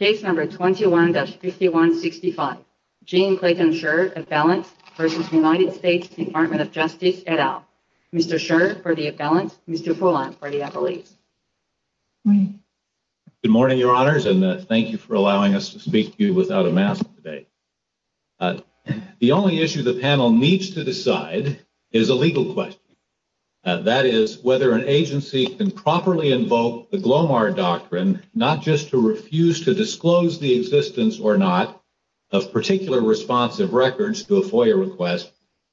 21-5165 Gene Clayton Schaerr, Appellant v. United States Department of Justice, et al. Mr. Schaerr for the appellant, Mr. Poulin for the appellate. Good morning, Your Honors, and thank you for allowing us to speak to you without a mask today. The only issue the panel needs to decide is a legal question. That is, whether an agency can properly invoke the Glomar Doctrine, not just to refuse to disclose the existence or not of particular responsive records to a FOIA request,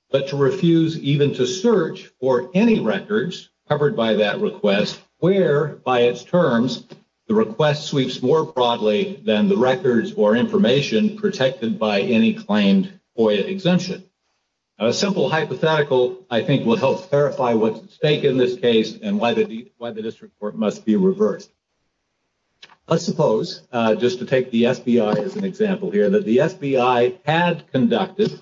but to refuse even to search for any records covered by that request where, by its terms, the request sweeps more broadly than the records or information protected by any claimed FOIA exemption. A simple hypothetical, I think, will help verify what's at stake in this case and why the district court must be reversed. Let's suppose, just to take the FBI as an example here, that the FBI had conducted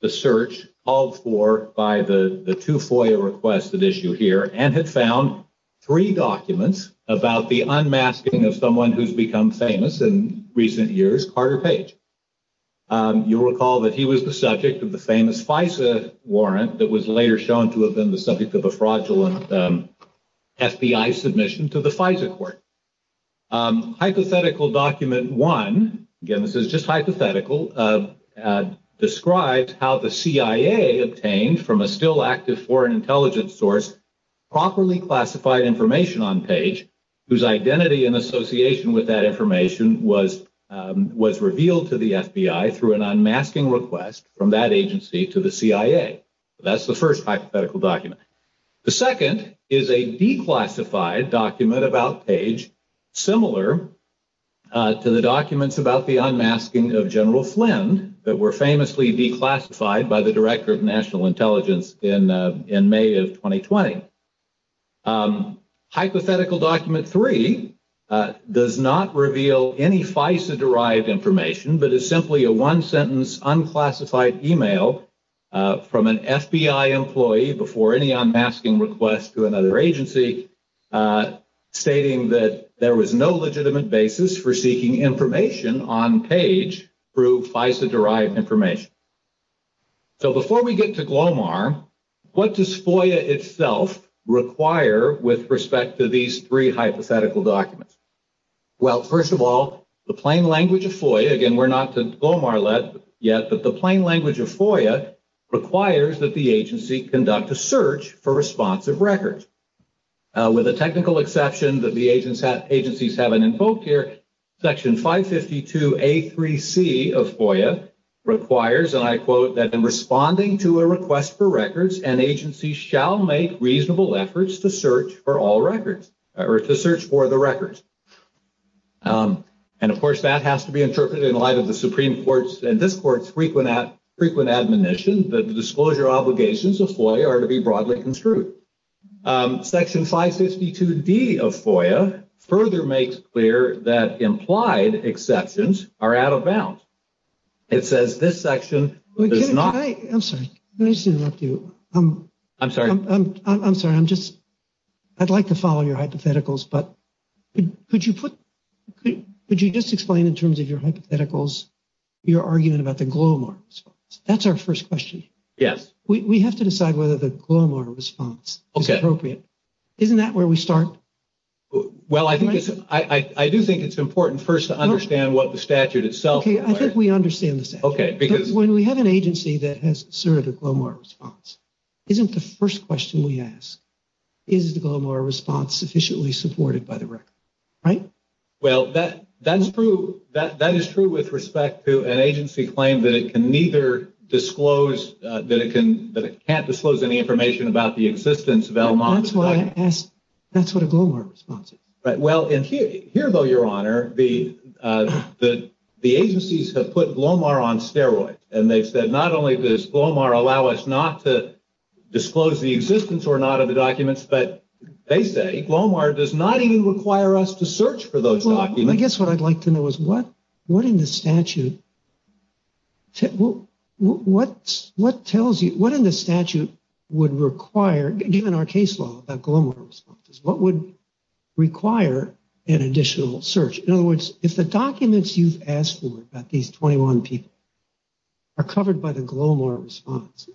the search called for by the two FOIA requests that issue here and had found three documents about the unmasking of someone who's become famous in recent years, Carter Page. You'll recall that he was the subject of the famous FISA warrant that was later shown to have been the subject of a fraudulent FBI submission to the FISA court. Hypothetical document one, again, this is just hypothetical, describes how the CIA obtained from a still active foreign intelligence source properly classified information on Page, whose identity in association with that information was revealed to the FBI through an unmasking request from that agency to the CIA. That's the first hypothetical document. The second is a declassified document about Page, similar to the documents about the unmasking of General Flynn, that were famously declassified by the Director of National Intelligence in May of 2020. Hypothetical document three does not reveal any FISA-derived information, but is simply a one-sentence unclassified email from an FBI employee before any unmasking request to another agency, stating that there was no legitimate basis for seeking information on Page through FISA-derived information. So before we get to GLOMAR, what does FOIA itself require with respect to these three hypothetical documents? Well, first of all, the plain language of FOIA, again, we're not to GLOMAR yet, but the plain language of FOIA requires that the agency conduct a search for responsive records. With a technical exception that the agencies haven't invoked here, Section 552A3C of FOIA requires, and I quote, that in responding to a request for records, an agency shall make reasonable efforts to search for all records, or to search for the records. And, of course, that has to be interpreted in light of the Supreme Court's and this Court's frequent admonition that the disclosure obligations of FOIA are to be broadly construed. Section 552D of FOIA further makes clear that implied exceptions are out of bounds. It says this section does not. I'm sorry. Let me just interrupt you. I'm sorry. I'm sorry. I'm just, I'd like to follow your hypotheticals, but could you put, could you just explain in terms of your hypotheticals your argument about the GLOMAR? That's our first question. Yes. We have to decide whether the GLOMAR response is appropriate. Okay. Isn't that where we start? Well, I think it's, I do think it's important first to understand what the statute itself requires. Okay, I think we understand the statute. Okay, because. When we have an agency that has asserted a GLOMAR response, isn't the first question we ask, is the GLOMAR response sufficiently supported by the record, right? Well, that is true with respect to an agency claim that it can neither disclose, that it can't disclose any information about the existence of LMOC. That's what a GLOMAR response is. Well, here though, Your Honor, the agencies have put GLOMAR on steroids, and they've said not only does GLOMAR allow us not to disclose the existence or not of the documents, but they say GLOMAR does not even require us to search for those documents. Well, I guess what I'd like to know is what in the statute, what tells you, what in the statute would require, given our case law about GLOMAR responses, what would require an additional search? In other words, if the documents you've asked for about these 21 people are covered by the GLOMAR response,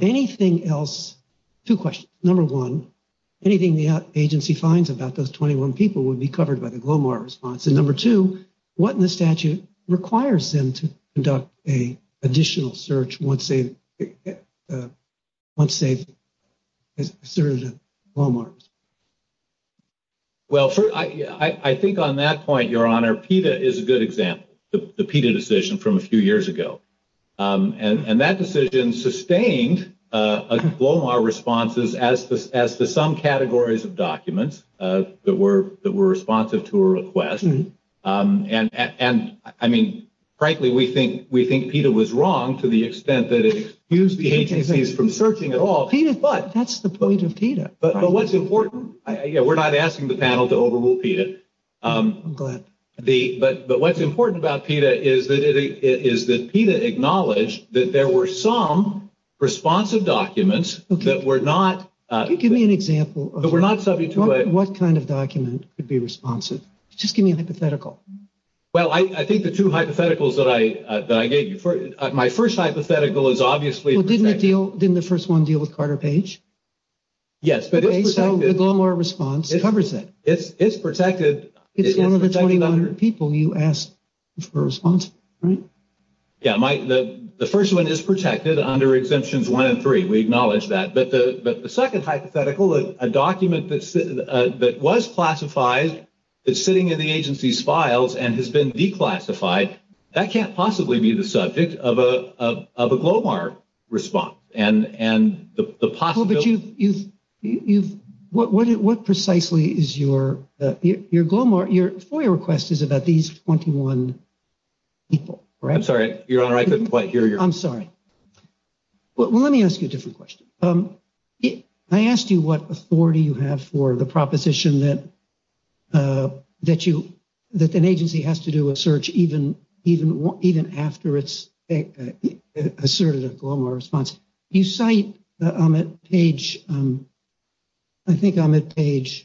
anything else, two questions. Number one, anything the agency finds about those 21 people would be covered by the GLOMAR response. And number two, what in the statute requires them to conduct an additional search once they've asserted a GLOMAR response? Well, I think on that point, Your Honor, PETA is a good example, the PETA decision from a few years ago. And that decision sustained GLOMAR responses as to some categories of documents that were responsive to a request. And, I mean, frankly, we think PETA was wrong to the extent that it excused the agencies from searching at all. PETA, that's the point of PETA. But what's important, we're not asking the panel to overrule PETA. Go ahead. But what's important about PETA is that PETA acknowledged that there were some responsive documents that were not. Can you give me an example of what kind of document could be responsive? Just give me a hypothetical. Well, I think the two hypotheticals that I gave you. My first hypothetical is obviously. Well, didn't the first one deal with Carter Page? Yes. So the GLOMAR response covers that. It's protected. It's one of the 2,100 people you asked for responsive, right? Yeah, the first one is protected under Exemptions 1 and 3. We acknowledge that. But the second hypothetical, a document that was classified, that's sitting in the agency's files and has been declassified, that can't possibly be the subject of a GLOMAR response. But what precisely is your GLOMAR? Your FOIA request is about these 21 people, right? I'm sorry, Your Honor, I couldn't quite hear you. I'm sorry. Well, let me ask you a different question. I asked you what authority you have for the proposition that an agency has to do a search even after it's asserted a GLOMAR response. You cite on page 19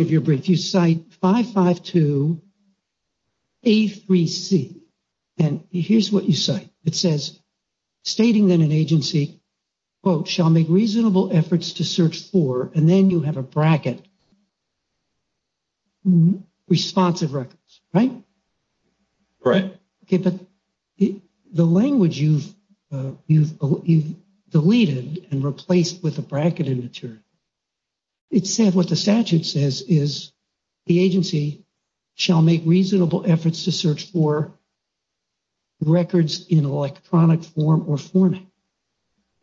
of your brief, you cite 552A3C. And here's what you cite. It says, stating that an agency, quote, shall make reasonable efforts to search for, and then you have a bracket, responsive records, right? Right. Okay, but the language you've deleted and replaced with a bracket in the term, it said what the statute says is the agency shall make reasonable efforts to search for records in electronic form or format.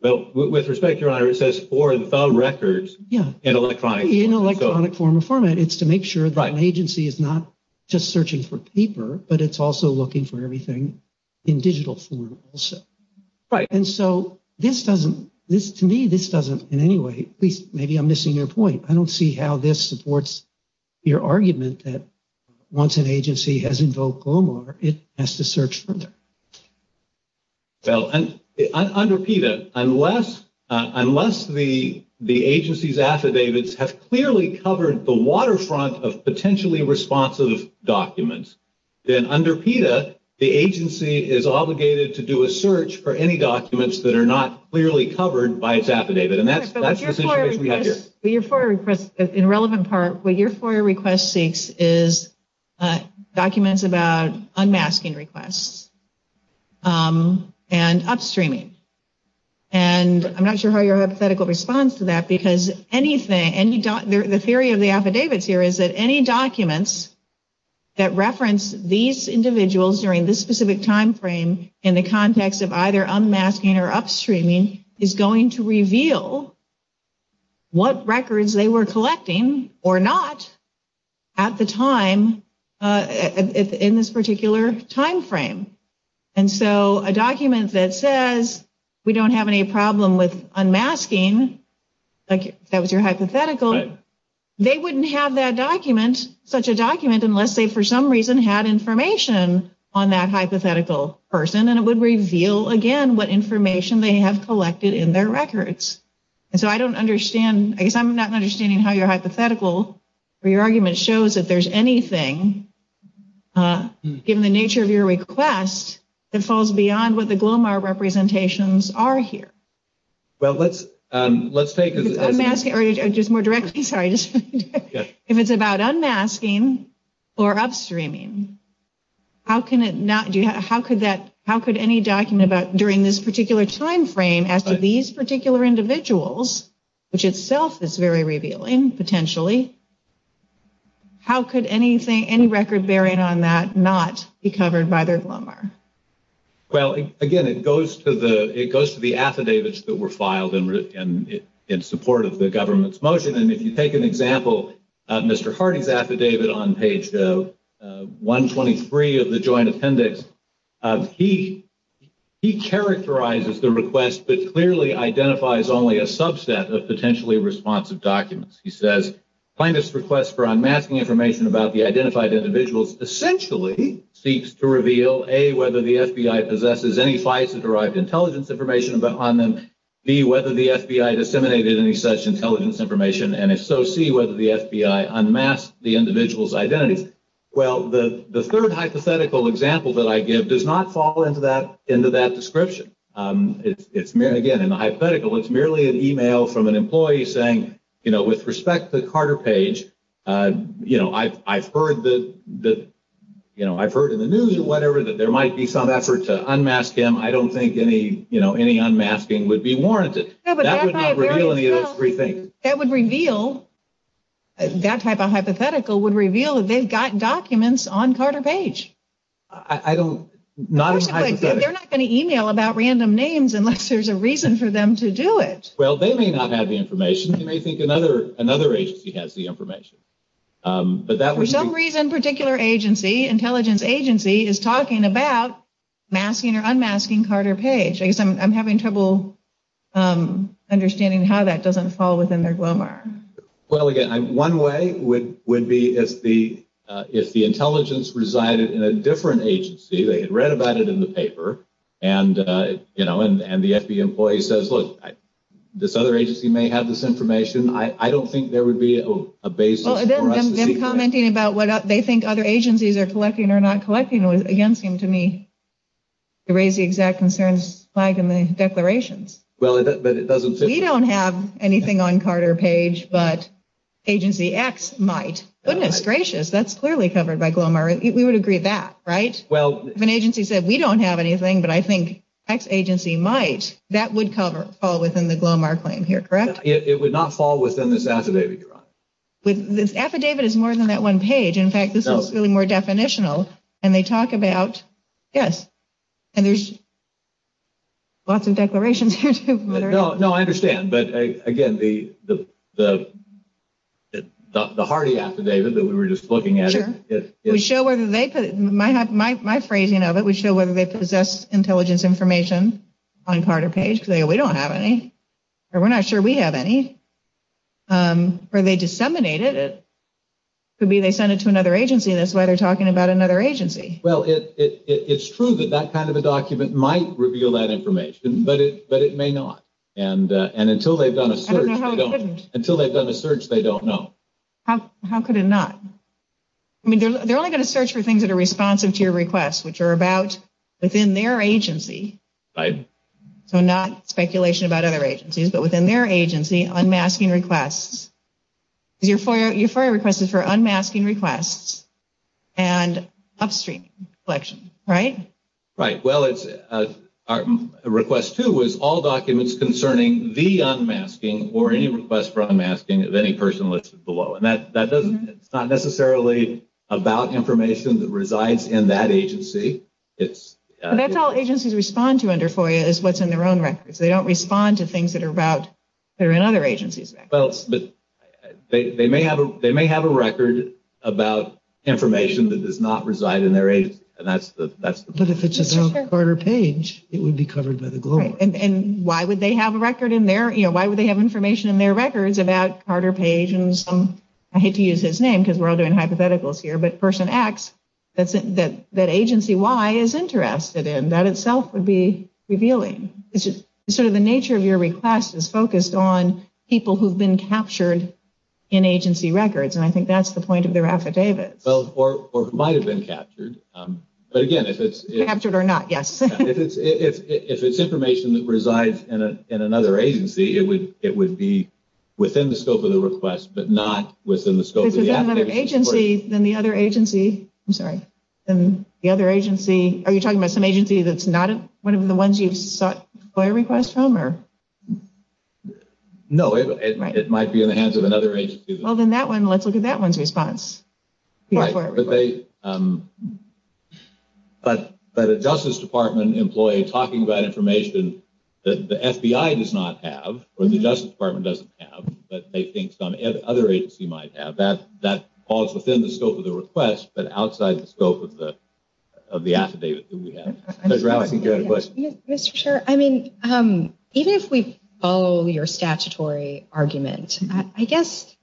Well, with respect, Your Honor, it says for the records in electronic. In electronic form or format. It's to make sure that an agency is not just searching for paper, but it's also looking for everything in digital form also. Right. And so this doesn't, to me, this doesn't in any way, please, maybe I'm missing your point. I don't see how this supports your argument that once an agency has invoked GLOMAR, it has to search further. Well, under PETA, unless the agency's affidavits have clearly covered the waterfront of potentially responsive documents, then under PETA, the agency is obligated to do a search for any documents that are not clearly covered by its affidavit. And that's the situation we have here. But your FOIA request, in relevant part, what your FOIA request seeks is documents about unmasking requests and upstreaming. And I'm not sure how your hypothetical response to that, because anything, the theory of the affidavits here is that any documents that reference these individuals during this specific timeframe in the context of either unmasking or upstreaming is going to reveal what records they were collecting or not at the time in this particular timeframe. And so a document that says we don't have any problem with unmasking, like that was your hypothetical, they wouldn't have that document, such a document, unless they for some reason had information on that hypothetical person. And it would reveal, again, what information they have collected in their records. And so I don't understand, I guess I'm not understanding how your hypothetical or your argument shows that there's anything, given the nature of your request, that falls beyond what the GLOMAR representations are here. Well, let's take this. If it's unmasking, or just more directly, sorry, if it's about unmasking or upstreaming, how could any document during this particular timeframe as to these particular individuals, which itself is very revealing, potentially, how could any record bearing on that not be covered by their GLOMAR? Well, again, it goes to the affidavits that were filed in support of the government's motion. And if you take an example, Mr. Hardy's affidavit on page 123 of the Joint Appendix, he characterizes the request, but clearly identifies only a subset of potentially responsive documents. He says, plaintiff's request for unmasking information about the identified individuals essentially seeks to reveal, A, whether the FBI possesses any FISA-derived intelligence information on them, B, whether the FBI disseminated any such intelligence information, and if so, C, whether the FBI unmasked the individuals' identities. The third hypothetical example that I give does not fall into that description. Again, in the hypothetical, it's merely an email from an employee saying, with respect to Carter Page, I've heard in the news or whatever that there might be some effort to unmask him. I don't think any unmasking would be warranted. That would not reveal any of those three things. That would reveal, that type of hypothetical would reveal that they've got documents on Carter Page. I don't, not in a hypothetical. They're not going to email about random names unless there's a reason for them to do it. Well, they may not have the information. They may think another agency has the information. For some reason, a particular agency, an intelligence agency, is talking about masking or unmasking Carter Page. I guess I'm having trouble understanding how that doesn't fall within their glomar. Well, again, one way would be if the intelligence resided in a different agency. They had read about it in the paper, and, you know, and the FBI employee says, look, this other agency may have this information. I don't think there would be a basis for us to see that. Well, them commenting about what they think other agencies are collecting or not collecting against him, to me, they raise the exact concerns flagged in the declarations. Well, but it doesn't fit. We don't have anything on Carter Page, but agency X might. Goodness gracious, that's clearly covered by glomar. We would agree that, right? Well, if an agency said, we don't have anything, but I think X agency might, that would fall within the glomar claim here, correct? It would not fall within this affidavit. This affidavit is more than that one page. In fact, this is really more definitional, and they talk about, yes. And there's lots of declarations here, too. No, I understand. But, again, the hearty affidavit that we were just looking at. Sure. My phrasing of it would show whether they possess intelligence information on Carter Page, because they go, we don't have any, or we're not sure we have any, or they disseminate it. Could be they send it to another agency, and that's why they're talking about another agency. Well, it's true that that kind of a document might reveal that information, but it may not. And until they've done a search, they don't know. How could it not? I mean, they're only going to search for things that are responsive to your request, which are about within their agency, so not speculation about other agencies, but within their agency, unmasking requests. Because your FOIA request is for unmasking requests and upstream collection, right? Right. Well, our request, too, was all documents concerning the unmasking or any request for unmasking of any person listed below. And it's not necessarily about information that resides in that agency. That's all agencies respond to under FOIA is what's in their own records. They may have a record about information that does not reside in their agency. But if it's about Carter Page, it would be covered by the Global. And why would they have information in their records about Carter Page and some, I hate to use his name because we're all doing hypotheticals here, but Person X that Agency Y is interested in? That itself would be revealing. Sort of the nature of your request is focused on people who have been captured in agency records, and I think that's the point of their affidavits. Or who might have been captured. But again, if it's information that resides in another agency, it would be within the scope of the request, but not within the scope of the affidavits. Are you talking about some agency that's not one of the ones you sought FOIA requests from? No, it might be in the hands of another agency. Well, then let's look at that one's response. But a Justice Department employee talking about information that the FBI does not have or the Justice Department doesn't have, but they think some other agency might have, that falls within the scope of the request, but outside the scope of the affidavit that we have. Ms. Rao, I think you had a question. Mr. Chair, I mean, even if we follow your statutory argument, I guess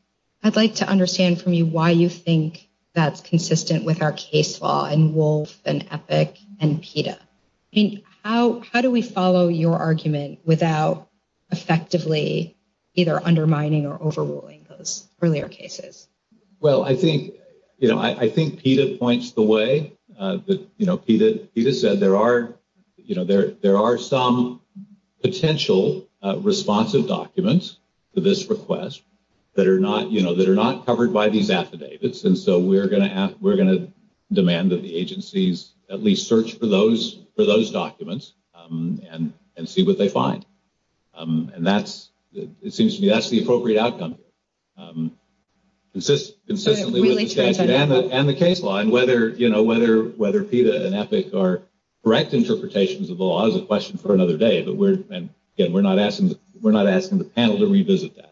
I'd like to understand from you why you think that's consistent with our case law in Wolf and Epic and PETA. How do we follow your argument without effectively either undermining or overruling those earlier cases? Well, I think PETA points the way. PETA said there are some potential responsive documents to this request that are not covered by these affidavits. And so we're going to demand that the agencies at least search for those documents and see what they find. And it seems to me that's the appropriate outcome here, consistently with the statute and the case law. And whether PETA and Epic are correct interpretations of the law is a question for another day. But, again, we're not asking the panel to revisit that.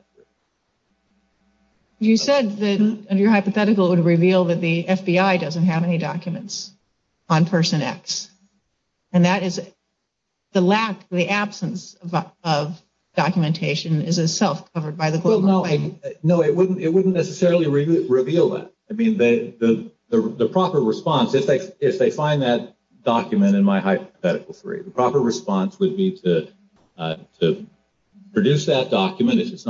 You said that, under your hypothetical, it would reveal that the FBI doesn't have any documents on Person X. And that is the lack, the absence of documentation is itself covered by the global claim. Well, no, it wouldn't necessarily reveal that. I mean, the proper response, if they find that document in my hypothetical, the proper response would be to produce that document, if it's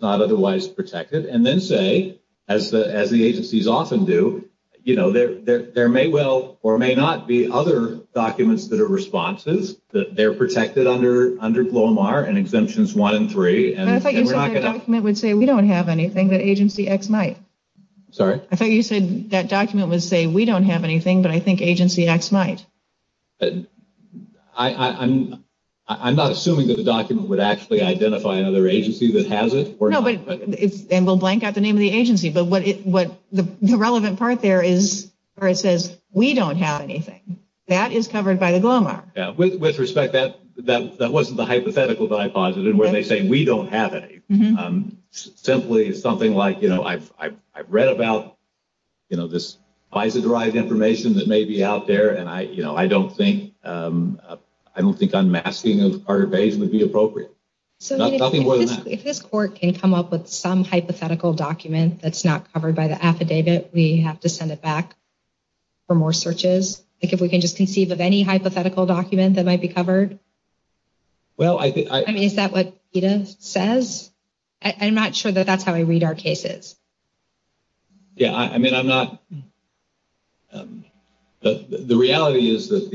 not otherwise protected, and then say, as the agencies often do, you know, there may well or may not be other documents that are responses, that they're protected under GLOMAR and Exemptions 1 and 3. I thought you said that document would say we don't have anything, but Agency X might. Sorry? I thought you said that document would say we don't have anything, but I think Agency X might. I'm not assuming that the document would actually identify another agency that has it. No, and we'll blank out the name of the agency. But the relevant part there is where it says we don't have anything. That is covered by the GLOMAR. With respect, that wasn't the hypothetical that I posited, where they say we don't have any. Simply something like, you know, I've read about this FISA-derived information that may be out there, and I don't think unmasking of Carter Page would be appropriate. Nothing more than that. So if this court can come up with some hypothetical document that's not covered by the affidavit, we have to send it back for more searches? Like if we can just conceive of any hypothetical document that might be covered? I mean, is that what PETA says? I'm not sure that that's how I read our cases. Yeah, I mean, I'm not. The reality is that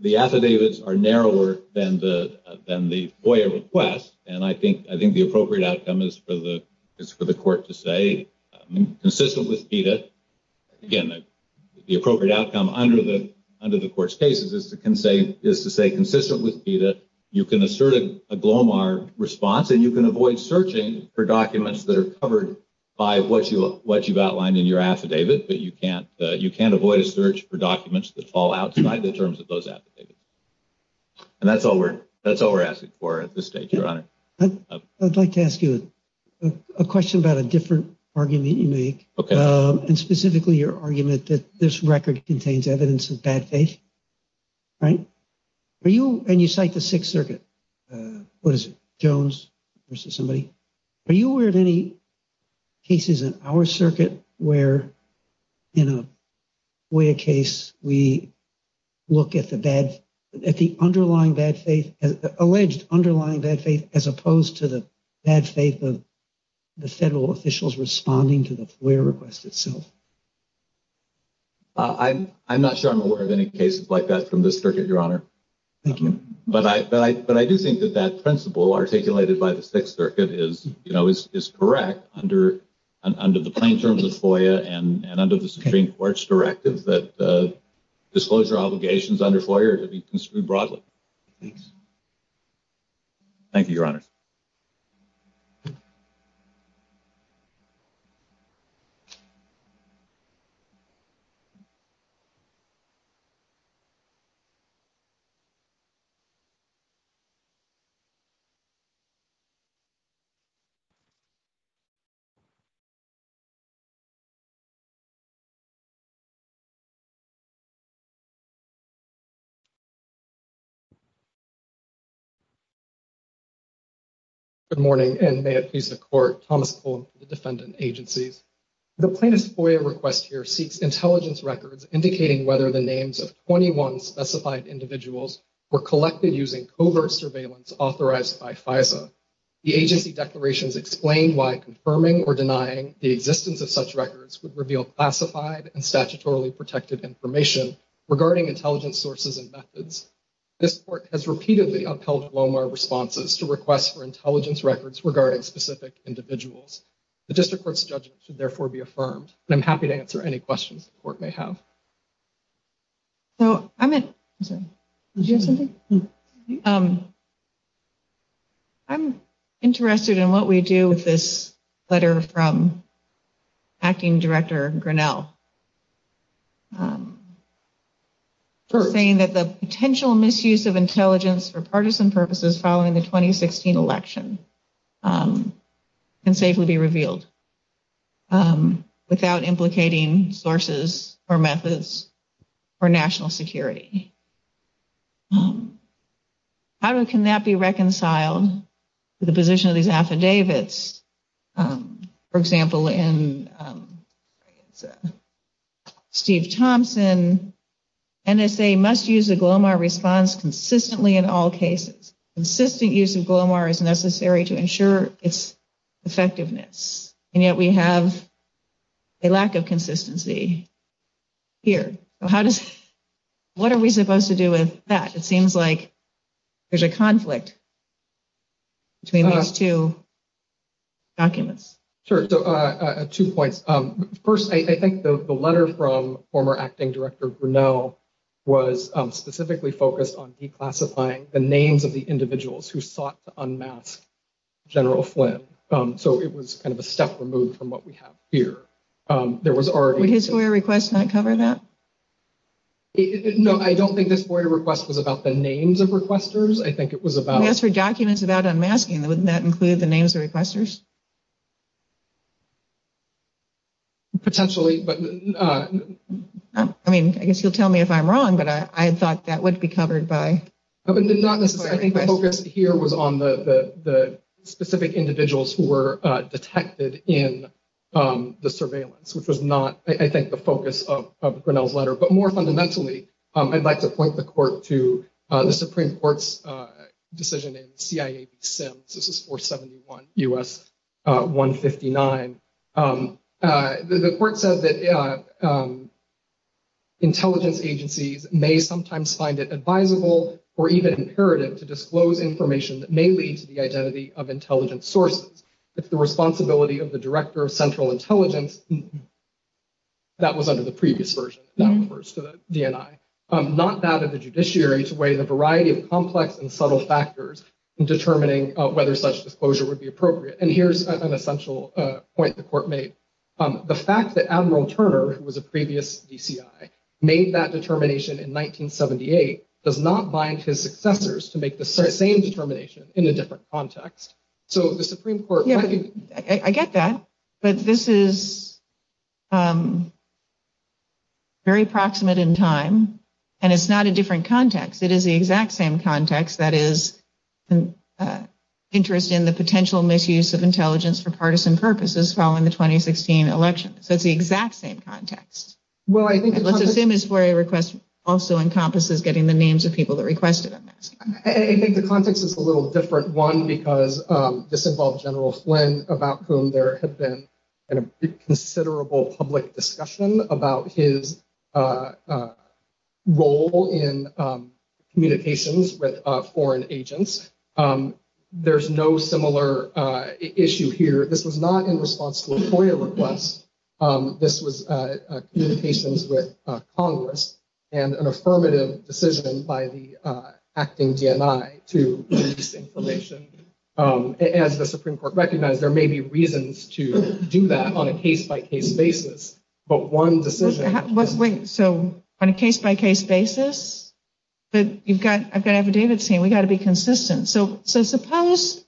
the affidavits are narrower than the FOIA request, and I think the appropriate outcome is for the court to say, consistent with PETA, again, the appropriate outcome under the court's case is to say, consistent with PETA, you can assert a GLOMAR response, and you can avoid searching for documents that are covered by what you've outlined in your affidavit, but you can't avoid a search for documents that fall outside the terms of those affidavits. And that's all we're asking for at this stage, Your Honor. I'd like to ask you a question about a different argument you make. Okay. And specifically your argument that this record contains evidence of bad faith, right? And you cite the Sixth Circuit. What is it, Jones versus somebody? Are you aware of any cases in our circuit where, in a FOIA case, we look at the underlying bad faith, alleged underlying bad faith, as opposed to the bad faith of the federal officials responding to the FOIA request itself? I'm not sure I'm aware of any cases like that from this circuit, Your Honor. Thank you. But I do think that that principle articulated by the Sixth Circuit is correct under the plain terms of FOIA and under the Supreme Court's directive that disclosure obligations under FOIA are to be construed broadly. Thanks. Thank you, Your Honor. Good morning, and may it please the Court. Thomas Cullen for the Defendant Agencies. The plaintiff's FOIA request here seeks intelligence records indicating whether the names of 21 specified individuals were collected using covert surveillance authorized by FISA. The agency declarations explain why confirming or denying the existence of such records would reveal classified and statutorily protected information regarding intelligence sources and methods. This Court has repeatedly upheld LOMAR responses to requests for intelligence records regarding specific individuals. The District Court's judgment should therefore be affirmed, and I'm happy to answer any questions the Court may have. So I'm interested in what we do with this letter from Acting Director Grinnell, saying that the potential misuse of intelligence for partisan purposes following the 2016 election can safely be revealed without implicating sources or methods or national security. How can that be reconciled to the position of these affidavits? For example, in Steve Thompson, NSA must use a GLOMAR response consistently in all cases. Consistent use of GLOMAR is necessary to ensure its effectiveness, and yet we have a lack of consistency here. What are we supposed to do with that? It seems like there's a conflict between these two documents. Sure. Two points. First, I think the letter from former Acting Director Grinnell was specifically focused on declassifying the names of the individuals who sought to unmask General Flynn. So it was kind of a step removed from what we have here. Would his FOIA request not cover that? No, I don't think this FOIA request was about the names of requesters. I think it was about... We asked for documents about unmasking. Wouldn't that include the names of requesters? Potentially, but... I mean, I guess you'll tell me if I'm wrong, but I thought that would be covered by... I think the focus here was on the specific individuals who were detected in the surveillance, which was not, I think, the focus of Grinnell's letter. But more fundamentally, I'd like to point the Court to the Supreme Court's decision in CIA v. Sims. This is 471 U.S. 159. The Court said that intelligence agencies may sometimes find it advisable or even imperative to disclose information that may lead to the identity of intelligence sources. It's the responsibility of the Director of Central Intelligence. That was under the previous version. That refers to the DNI. Not that of the judiciary to weigh the variety of complex and subtle factors in determining whether such disclosure would be appropriate. And here's an essential point the Court made. The fact that Admiral Turner, who was a previous DCI, made that determination in 1978 does not bind his successors to make the same determination in a different context. So the Supreme Court... I get that, but this is very proximate in time, and it's not a different context. It is the exact same context, that is, interest in the potential misuse of intelligence for partisan purposes following the 2016 election. So it's the exact same context. Well, I think... Let's assume his FOIA request also encompasses getting the names of people that requested it. I think the context is a little different. One, because this involved General Flynn, about whom there had been a considerable public discussion about his role in communications with foreign agents. There's no similar issue here. This was not in response to a FOIA request. This was communications with Congress and an affirmative decision by the acting DNI to release information. As the Supreme Court recognized, there may be reasons to do that on a case-by-case basis, but one decision... Wait, so on a case-by-case basis? But you've got... I've got affidavits here. We've got to be consistent. So suppose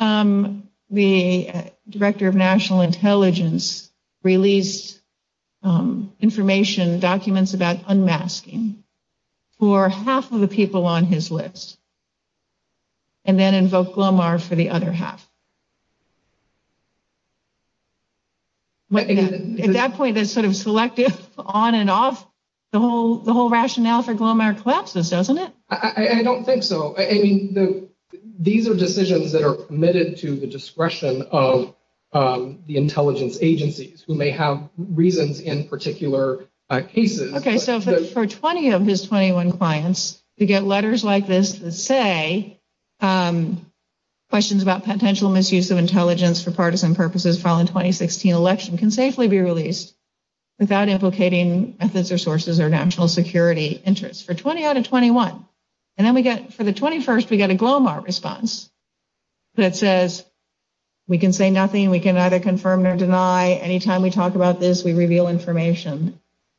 the Director of National Intelligence released information, documents about unmasking, for half of the people on his list and then invoked GLOMAR for the other half. At that point, that's sort of selective on and off. The whole rationale for GLOMAR collapses, doesn't it? I don't think so. These are decisions that are permitted to the discretion of the intelligence agencies, who may have reasons in particular cases. Okay, so for 20 of his 21 clients, to get letters like this that say questions about potential misuse of intelligence for partisan purposes following the 2016 election can safely be released without implicating methods or sources or national security interests. For 20 out of 21. And then for the 21st, we get a GLOMAR response that says, we can say nothing, we can either confirm or deny. Anytime we talk about this, we reveal information.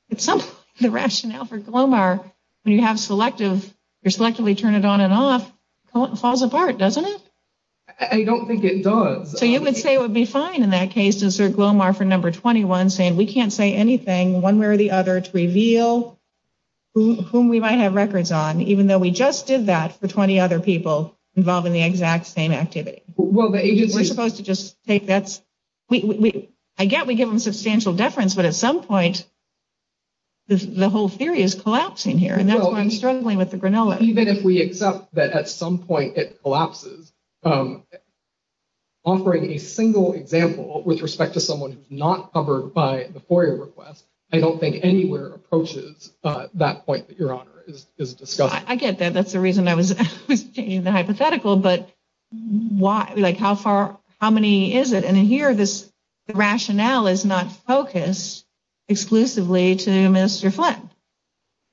The rationale for GLOMAR, when you have selective, you selectively turn it on and off, it falls apart, doesn't it? I don't think it does. So you would say it would be fine in that case to assert GLOMAR for number 21, saying we can't say anything one way or the other to reveal whom we might have records on, even though we just did that for 20 other people involved in the exact same activity. We're supposed to just take that. I get we give them substantial deference, but at some point, the whole theory is collapsing here. And that's why I'm struggling with the granola. Even if we accept that at some point it collapses. Offering a single example with respect to someone who's not covered by the FOIA request, I don't think anywhere approaches that point that Your Honor is discussing. I get that. That's the reason I was changing the hypothetical. But why? Like, how far? How many is it? And in here, this rationale is not focused exclusively to Minister Flynn.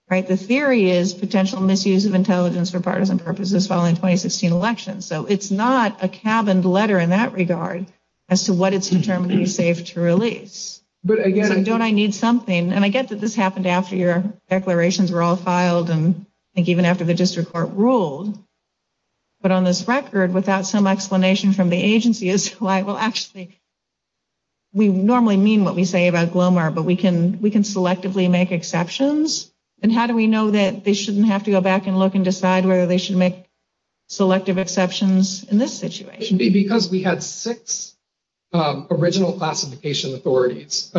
Right. The theory is potential misuse of intelligence for partisan purposes following 2016 elections. So it's not a cabin letter in that regard as to what it's determined to be safe to release. But again, don't I need something? And I get that this happened after your declarations were all filed. And I think even after the district court ruled. But on this record, without some explanation from the agency is who I will actually. We normally mean what we say about Glomar, but we can we can selectively make exceptions. And how do we know that they shouldn't have to go back and look and decide whether they should make selective exceptions in this situation? Because we had six original classification authorities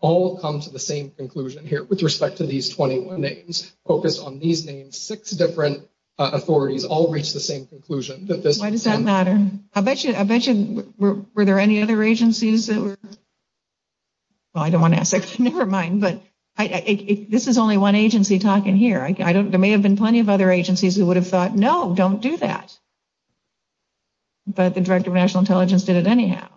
all come to the same conclusion here. With respect to these 21 names focused on these names, six different authorities all reached the same conclusion. Why does that matter? I bet you. I bet you. Were there any other agencies that were. Well, I don't want to ask. Never mind. But this is only one agency talking here. I don't. There may have been plenty of other agencies who would have thought, no, don't do that. But the director of national intelligence did it anyhow.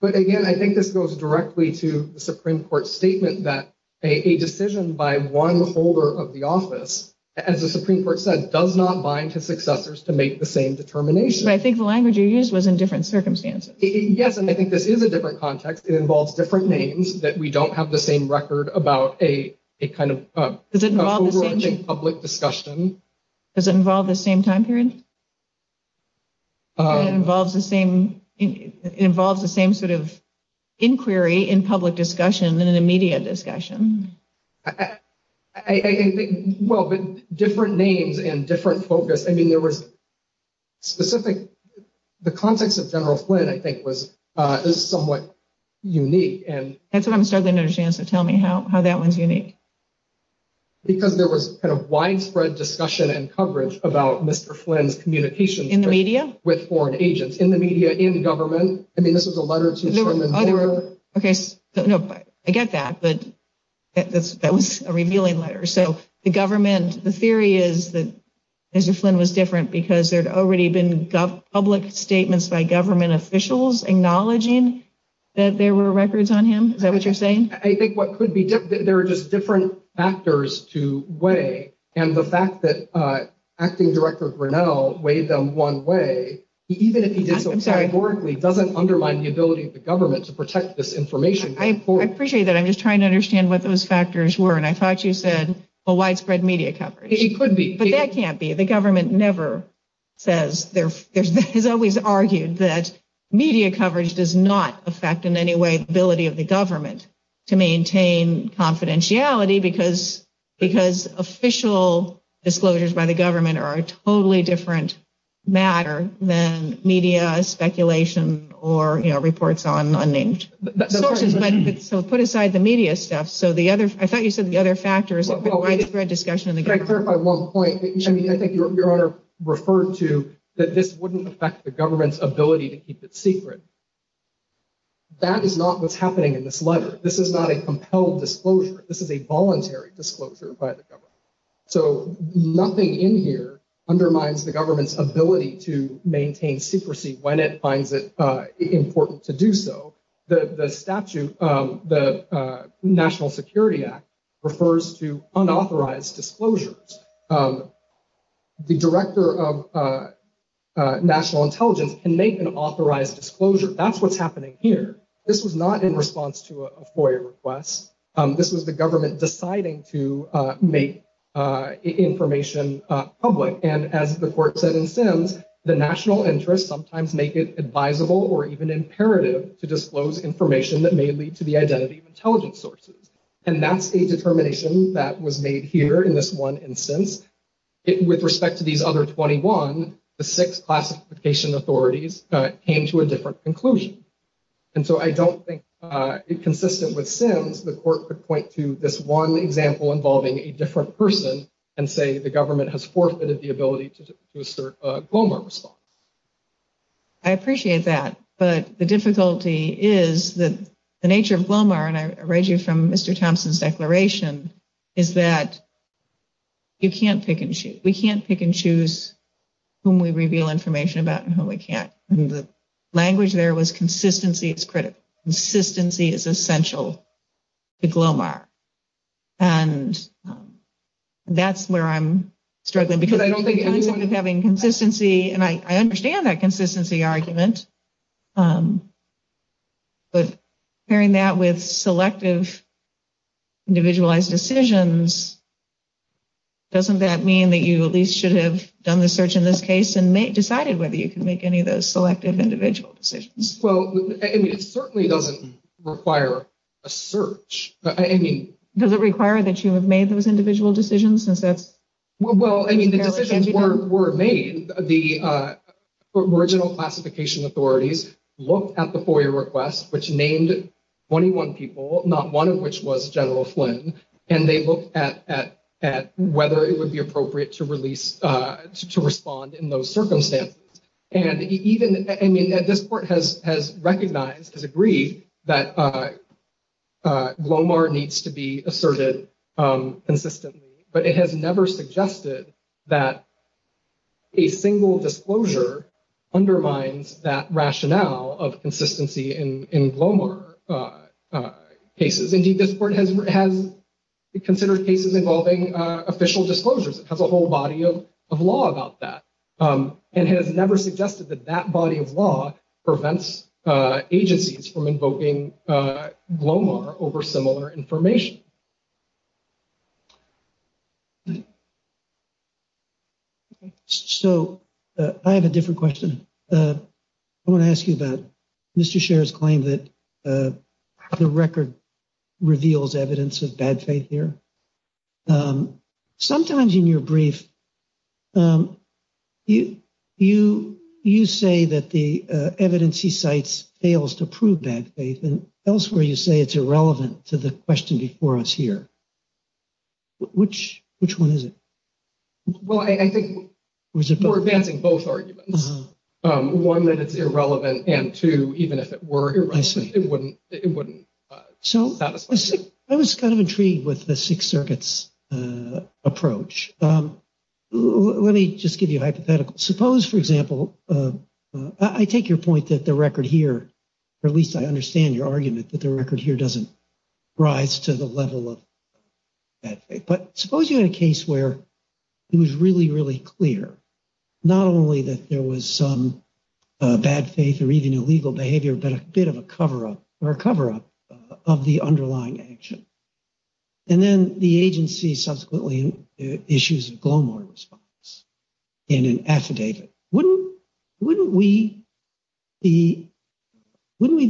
But again, I think this goes directly to the Supreme Court statement that a decision by one holder of the office, as the Supreme Court said, does not bind to successors to make the same determination. I think the language you use was in different circumstances. Yes. And I think this is a different context. It involves different names that we don't have the same record about a kind of public discussion. Does it involve the same time period? It involves the same sort of inquiry in public discussion than in a media discussion. I think, well, different names and different focus. I mean, there was specific. The context of General Flynn, I think, was somewhat unique. That's what I'm starting to understand. So tell me how that one's unique. Because there was kind of widespread discussion and coverage about Mr. Flynn's communication in the media with foreign agents in the media, in government. I mean, this was a letter to the other case. I get that. But that was a revealing letter. So the government, the theory is that Mr. Flynn was different because there had already been public statements by government officials acknowledging that there were records on him. Is that what you're saying? I think what could be there are just different factors to weigh. And the fact that acting director Grinnell weighed them one way, even if he did so, I'm sorry, it doesn't undermine the ability of the government to protect this information. I appreciate that. I'm just trying to understand what those factors were. And I thought you said a widespread media coverage. It could be. But that can't be. The government never says there. There's always argued that media coverage does not affect in any way the ability of the government to maintain confidentiality because because official disclosures by the government are a totally different matter than media speculation or reports on unnamed sources. But so put aside the media stuff. So the other I thought you said the other factors. I think your honor referred to that this wouldn't affect the government's ability to keep it secret. That is not what's happening in this letter. This is not a compelled disclosure. This is a voluntary disclosure by the government. So nothing in here undermines the government's ability to maintain secrecy when it finds it important to do so. The statute, the National Security Act refers to unauthorized disclosures. The director of national intelligence can make an authorized disclosure. That's what's happening here. This was not in response to a FOIA request. This was the government deciding to make information public. And as the court said in Sims, the national interests sometimes make it advisable or even imperative to disclose information that may lead to the identity of intelligence sources. And that's a determination that was made here in this one instance. With respect to these other 21, the six classification authorities came to a different conclusion. And so I don't think consistent with Sims, the court could point to this one example involving a different person and say the government has forfeited the ability to assert a GLOMAR response. I appreciate that. But the difficulty is that the nature of GLOMAR, and I read you from Mr. Thompson's declaration, is that you can't pick and choose. We can't pick and choose whom we reveal information about and whom we can't. And the language there was consistency is critical. Consistency is essential to GLOMAR. And that's where I'm struggling because I don't think having consistency, and I understand that consistency argument, but pairing that with selective individualized decisions, doesn't that mean that you at least should have done the search in this case and decided whether you can make any of those selective individual decisions? Well, I mean, it certainly doesn't require a search. I mean... Does it require that you have made those individual decisions since that's... Well, I mean, the decisions were made. I mean, the original classification authorities looked at the FOIA request, which named 21 people, not one of which was General Flynn. And they looked at whether it would be appropriate to release, to respond in those circumstances. And even, I mean, this Court has recognized, has agreed that GLOMAR needs to be asserted consistently, but it has never suggested that a single disclosure undermines that rationale of consistency in GLOMAR cases. Indeed, this Court has considered cases involving official disclosures. It has a whole body of law about that. And it has never suggested that that body of law prevents agencies from invoking GLOMAR over similar information. So I have a different question. I want to ask you about Mr. Scherr's claim that the record reveals evidence of bad faith here. Sometimes in your brief, you say that the evidence he cites fails to prove bad faith, and elsewhere you say it's irrelevant to the question before us here. Which one is it? Well, I think we're advancing both arguments. One, that it's irrelevant, and two, even if it were irrelevant, it wouldn't satisfy me. I was kind of intrigued with the Sixth Circuit's approach. Let me just give you a hypothetical. Suppose, for example, I take your point that the record here, or at least I understand your argument, that the record here doesn't rise to the level of bad faith. But suppose you had a case where it was really, really clear, not only that there was some bad faith or even illegal behavior, but a bit of a cover-up of the underlying action. And then the agency subsequently issues a GLOMAR response in an affidavit. Wouldn't we be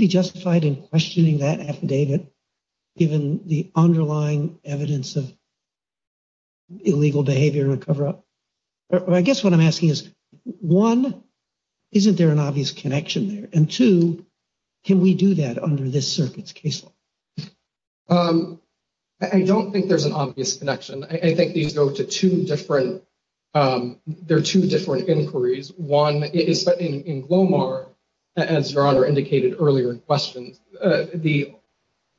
justified in questioning that affidavit given the underlying evidence of illegal behavior and cover-up? I guess what I'm asking is, one, isn't there an obvious connection there? And, two, can we do that under this circuit's case law? I don't think there's an obvious connection. I think these go to two different – there are two different inquiries. One is in GLOMAR, as Your Honor indicated earlier in questions, the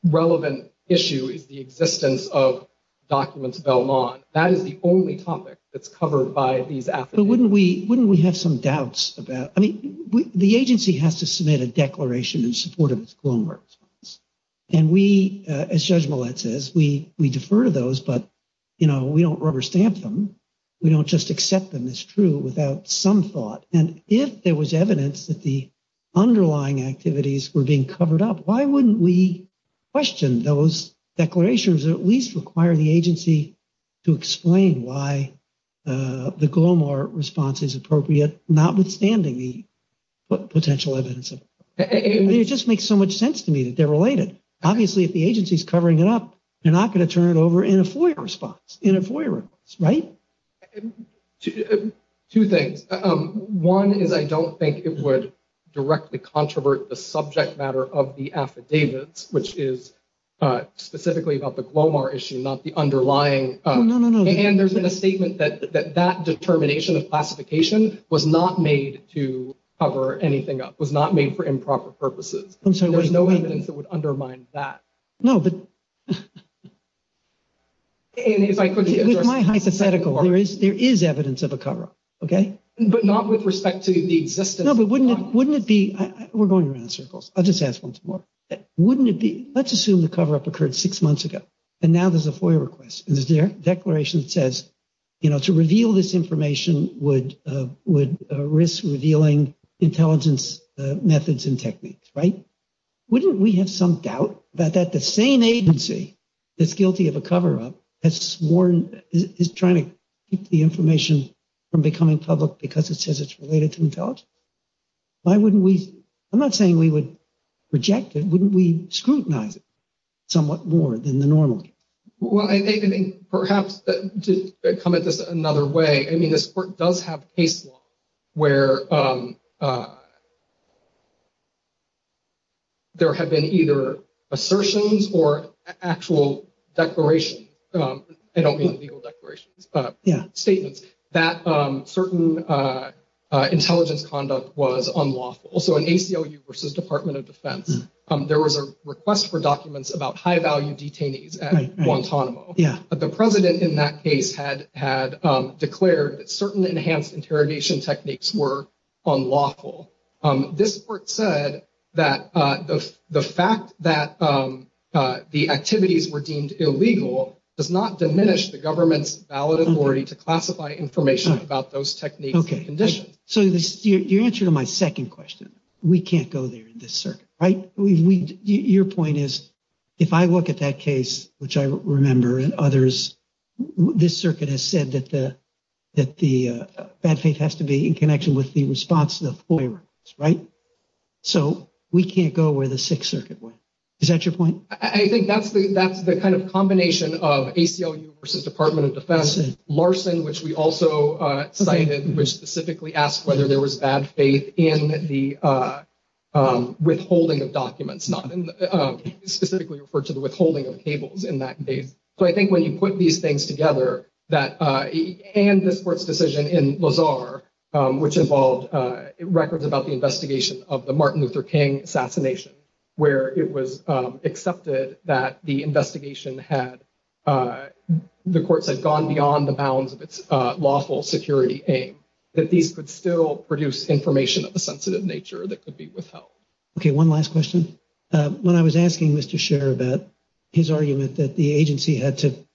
relevant issue is the existence of documents Belmont. That is the only topic that's covered by these affidavits. But wouldn't we have some doubts about – I mean, the agency has to submit a declaration in support of its GLOMAR response. And we, as Judge Millett says, we defer to those, but, you know, we don't rubber stamp them. We don't just accept them as true without some thought. And if there was evidence that the underlying activities were being covered up, why wouldn't we question those declarations that at least require the agency to explain why the GLOMAR response is appropriate, notwithstanding the potential evidence? It just makes so much sense to me that they're related. Obviously, if the agency is covering it up, they're not going to turn it over in a FOIA response, in a FOIA response, right? Two things. One is I don't think it would directly controvert the subject matter of the affidavits, which is specifically about the GLOMAR issue, not the underlying. And there's been a statement that that determination of classification was not made to cover anything up, was not made for improper purposes. There's no evidence that would undermine that. No, but it's my hypothetical. There is evidence of a cover-up. Okay. But not with respect to the existence. No, but wouldn't it be? We're going around in circles. I'll just ask once more. Wouldn't it be? Let's assume the cover-up occurred six months ago, and now there's a FOIA request, and there's a declaration that says, you know, to reveal this information would risk revealing intelligence methods and techniques, right? Wouldn't we have some doubt that the same agency that's guilty of a cover-up has sworn, is trying to keep the information from becoming public because it says it's related to intelligence? Why wouldn't we? I'm not saying we would reject it. Wouldn't we scrutinize it somewhat more than the normal case? Well, I think perhaps to come at this another way, I mean, this court does have case law where there have been either assertions or actual declarations. I don't mean legal declarations. Yeah. Statements that certain intelligence conduct was unlawful. Also in ACLU versus Department of Defense, there was a request for documents about high-value detainees at Guantanamo. Yeah. The president in that case had declared that certain enhanced interrogation techniques were unlawful. This court said that the fact that the activities were deemed illegal does not diminish the government's valid authority to classify information about those techniques and conditions. So your answer to my second question, we can't go there in this circuit, right? Your point is, if I look at that case, which I remember, and others, this circuit has said that the bad faith has to be in connection with the response to the FOIA records, right? So we can't go where the Sixth Circuit went. Is that your point? I think that's the kind of combination of ACLU versus Department of Defense, Larson, which we also cited, which specifically asked whether there was bad faith in the withholding of documents, not specifically referred to the withholding of cables in that case. So I think when you put these things together, and this court's decision in Lazar, which involved records about the investigation of the Martin Luther King assassination, where it was accepted that the investigation had, the court said, gone beyond the bounds of its lawful security aim, that these could still produce information of a sensitive nature that could be withheld. Okay, one last question. When I was asking Mr. Scherer about his argument that the agency had to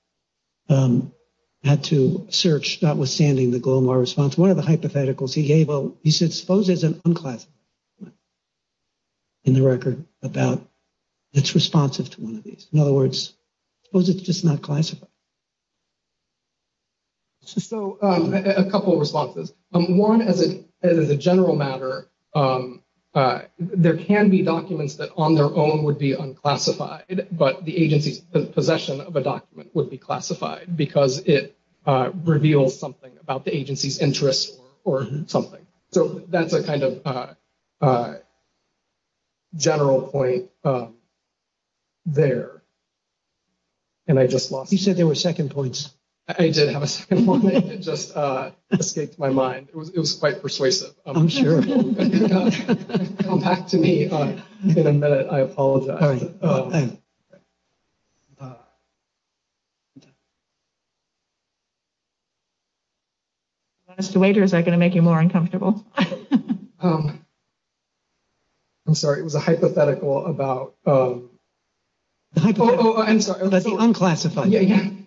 search notwithstanding the Glomar response, one of the hypotheticals he gave, he said, suppose there's an unclassified document in the record about, that's responsive to one of these. In other words, suppose it's just not classified. So a couple of responses. One, as a general matter, there can be documents that on their own would be unclassified, but the agency's possession of a document would be classified because it reveals something about the agency's interest or something. So that's a kind of general point there. And I just lost it. You said there were second points. I did have a second point. It just escaped my mind. It was quite persuasive. I'm sure. Come back to me in a minute. I apologize. Do you want us to wait or is that going to make you more uncomfortable? I'm sorry. It was a hypothetical about. Oh, I'm sorry. Unclassified.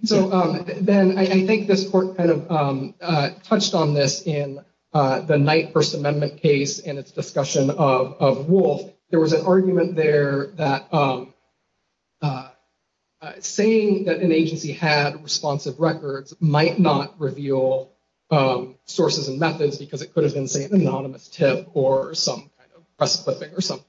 So then I think this court kind of touched on this in the Knight First Amendment case and its discussion of Wolf. There was an argument there that saying that an agency had responsive records might not reveal sources and methods because it could have been, say, an anonymous tip or some kind of press clipping or something.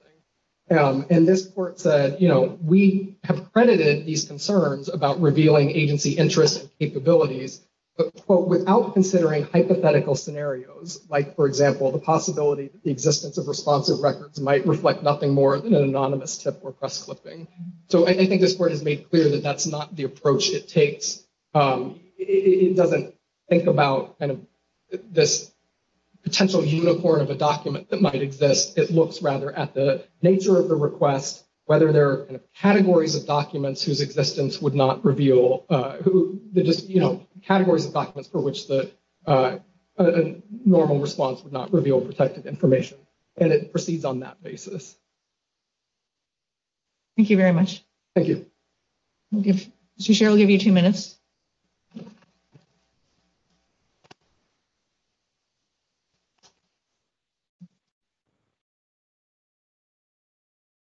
And this court said, you know, we have credited these concerns about revealing agency interests and capabilities, but without considering hypothetical scenarios like, for example, the possibility that the existence of responsive records might reflect nothing more than an anonymous tip or press clipping. So I think this court has made clear that that's not the approach it takes. It doesn't think about this potential unicorn of a document that might exist. It looks rather at the nature of the request, whether there are categories of documents whose existence would not reveal who the just, you know, categories of documents for which the normal response would not reveal protective information. And it proceeds on that basis. Thank you very much. Thank you. Cheryl, give you two minutes.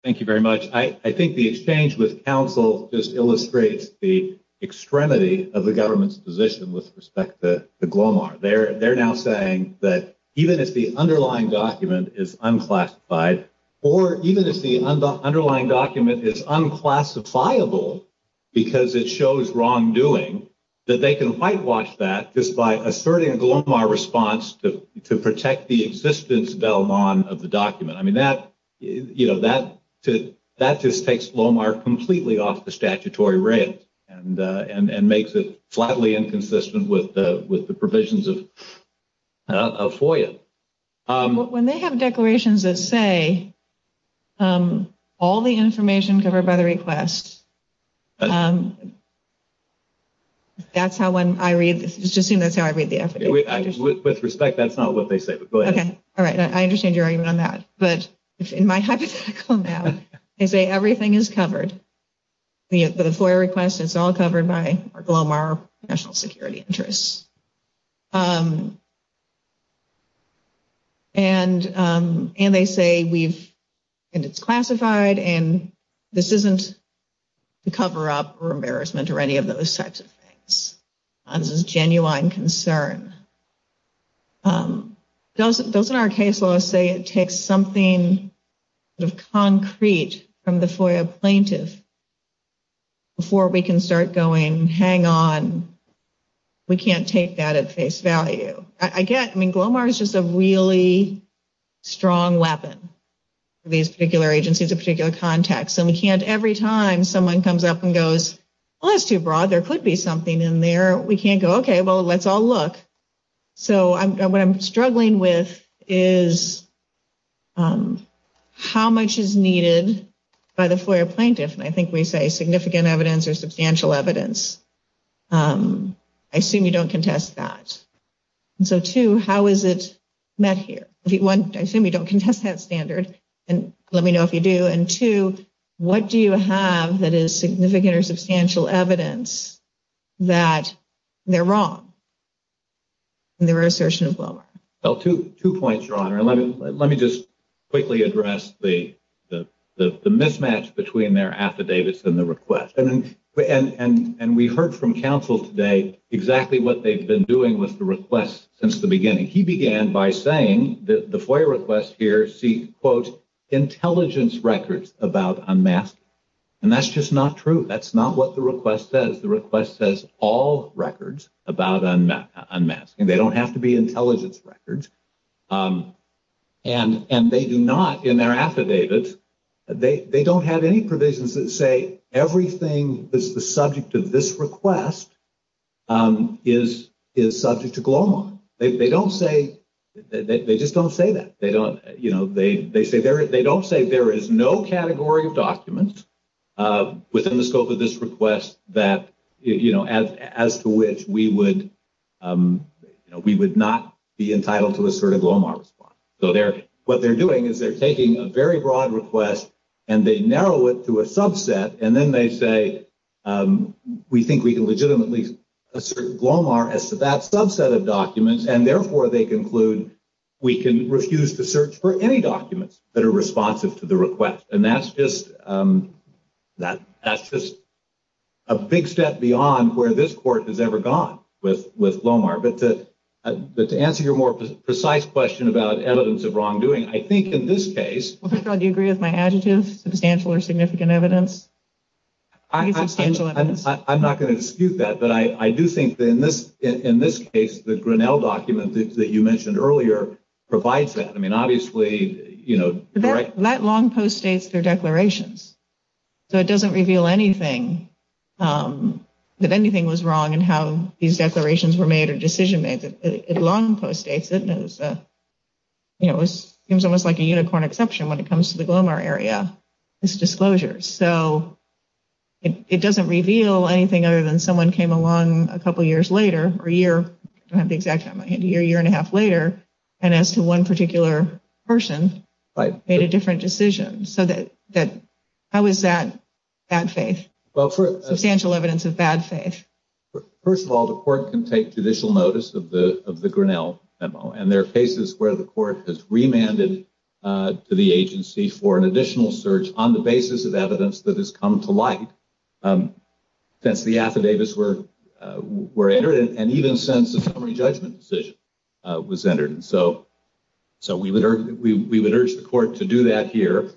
Thank you very much. I think the exchange with counsel just illustrates the extremity of the government's position with respect to the Glomar. They're now saying that even if the underlying document is unclassified, or even if the underlying document is unclassifiable because it shows wrongdoing, that they can whitewash that just by asserting a Glomar response to protect the existence of the document. I mean, that, you know, that just takes Glomar completely off the statutory rails and makes it flatly inconsistent with the provisions of FOIA. When they have declarations that say all the information covered by the request, that's how when I read, just assume that's how I read the effort. With respect, that's not what they say, but go ahead. Okay. All right. I understand your argument on that. But in my hypothetical now, they say everything is covered. The FOIA request, it's all covered by our Glomar national security interests. And they say we've, and it's classified, and this isn't to cover up or embarrassment or any of those types of things. This is genuine concern. Doesn't our case law say it takes something of concrete from the FOIA plaintiff before we can start going, hang on, we can't take that at face value. I get, I mean, Glomar is just a really strong weapon for these particular agencies, a particular context. And we can't every time someone comes up and goes, well, that's too broad. There could be something in there. We can't go, okay, well, let's all look. So what I'm struggling with is how much is needed by the FOIA plaintiff, and I think we say significant evidence or substantial evidence. I assume you don't contest that. So, two, how is it met here? One, I assume you don't contest that standard, and let me know if you do. And, two, what do you have that is significant or substantial evidence that they're wrong in their assertion of Glomar? Well, two points, Your Honor. Let me just quickly address the mismatch between their affidavits and the request. And we heard from counsel today exactly what they've been doing with the request since the beginning. He began by saying that the FOIA requests here seek, quote, intelligence records about unmasking. And that's just not true. That's not what the request says. The request says all records about unmasking. They don't have to be intelligence records. And they do not in their affidavits, they don't have any provisions that say everything that's the subject of this request is subject to Glomar. They don't say, they just don't say that. They don't, you know, they don't say there is no category of documents within the scope of this request that, you know, as to which we would not be entitled to assert a Glomar response. So, what they're doing is they're taking a very broad request and they narrow it to a subset, and then they say we think we can legitimately assert Glomar as to that subset of documents, and therefore they conclude we can refuse to search for any documents that are responsive to the request. And that's just a big step beyond where this court has ever gone with Glomar. But to answer your more precise question about evidence of wrongdoing, I think in this case ‑‑ I'm not going to dispute that, but I do think that in this case, the Grinnell document that you mentioned earlier provides that. I mean, obviously, you know, correct? That long post states their declarations. So it doesn't reveal anything, that anything was wrong in how these declarations were made or decision made. It long post states, you know, it seems almost like a unicorn exception when it comes to the Glomar area, this disclosure. So it doesn't reveal anything other than someone came along a couple years later or a year, I don't have the exact time, a year, year and a half later, and as to one particular person made a different decision. So how is that bad faith, substantial evidence of bad faith? First of all, the court can take judicial notice of the Grinnell memo, and there are cases where the court has remanded to the agency for an additional search on the basis of evidence that has come to light since the affidavits were entered and even since the summary judgment decision was entered. And so we would urge the court to do that here.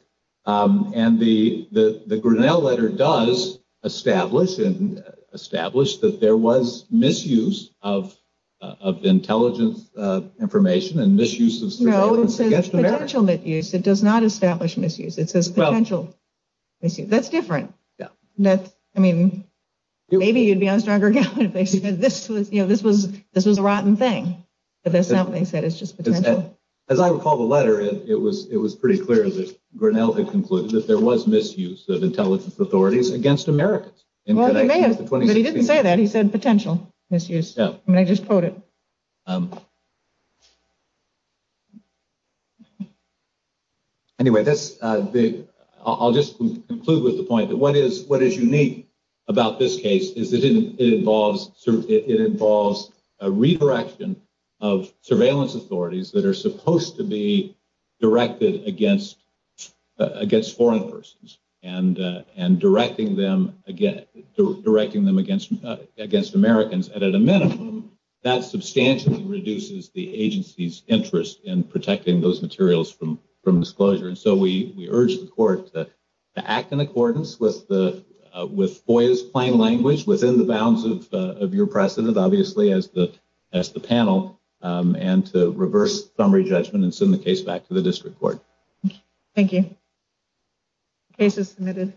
And the Grinnell letter does establish that there was misuse of intelligence information and misuse of surveillance against America. No, it says potential misuse, it does not establish misuse. It says potential misuse. That's different. I mean, maybe you'd be on stronger ground if they said this was a rotten thing, but that's not what they said, it's just potential. As I recall the letter, it was pretty clear that Grinnell had concluded that there was misuse of intelligence authorities against Americans. But he didn't say that, he said potential misuse. I mean, I just quote it. Anyway, I'll just conclude with the point that what is unique about this case is that it involves a redirection of surveillance authorities that are supposed to be directed against foreign persons and directing them against Americans. And at a minimum, that substantially reduces the agency's interest in protecting those materials from disclosure. And so we urge the court to act in accordance with FOIA's plain language, within the bounds of your precedent, obviously, as the panel, and to reverse summary judgment and send the case back to the district court. Thank you. Case is submitted.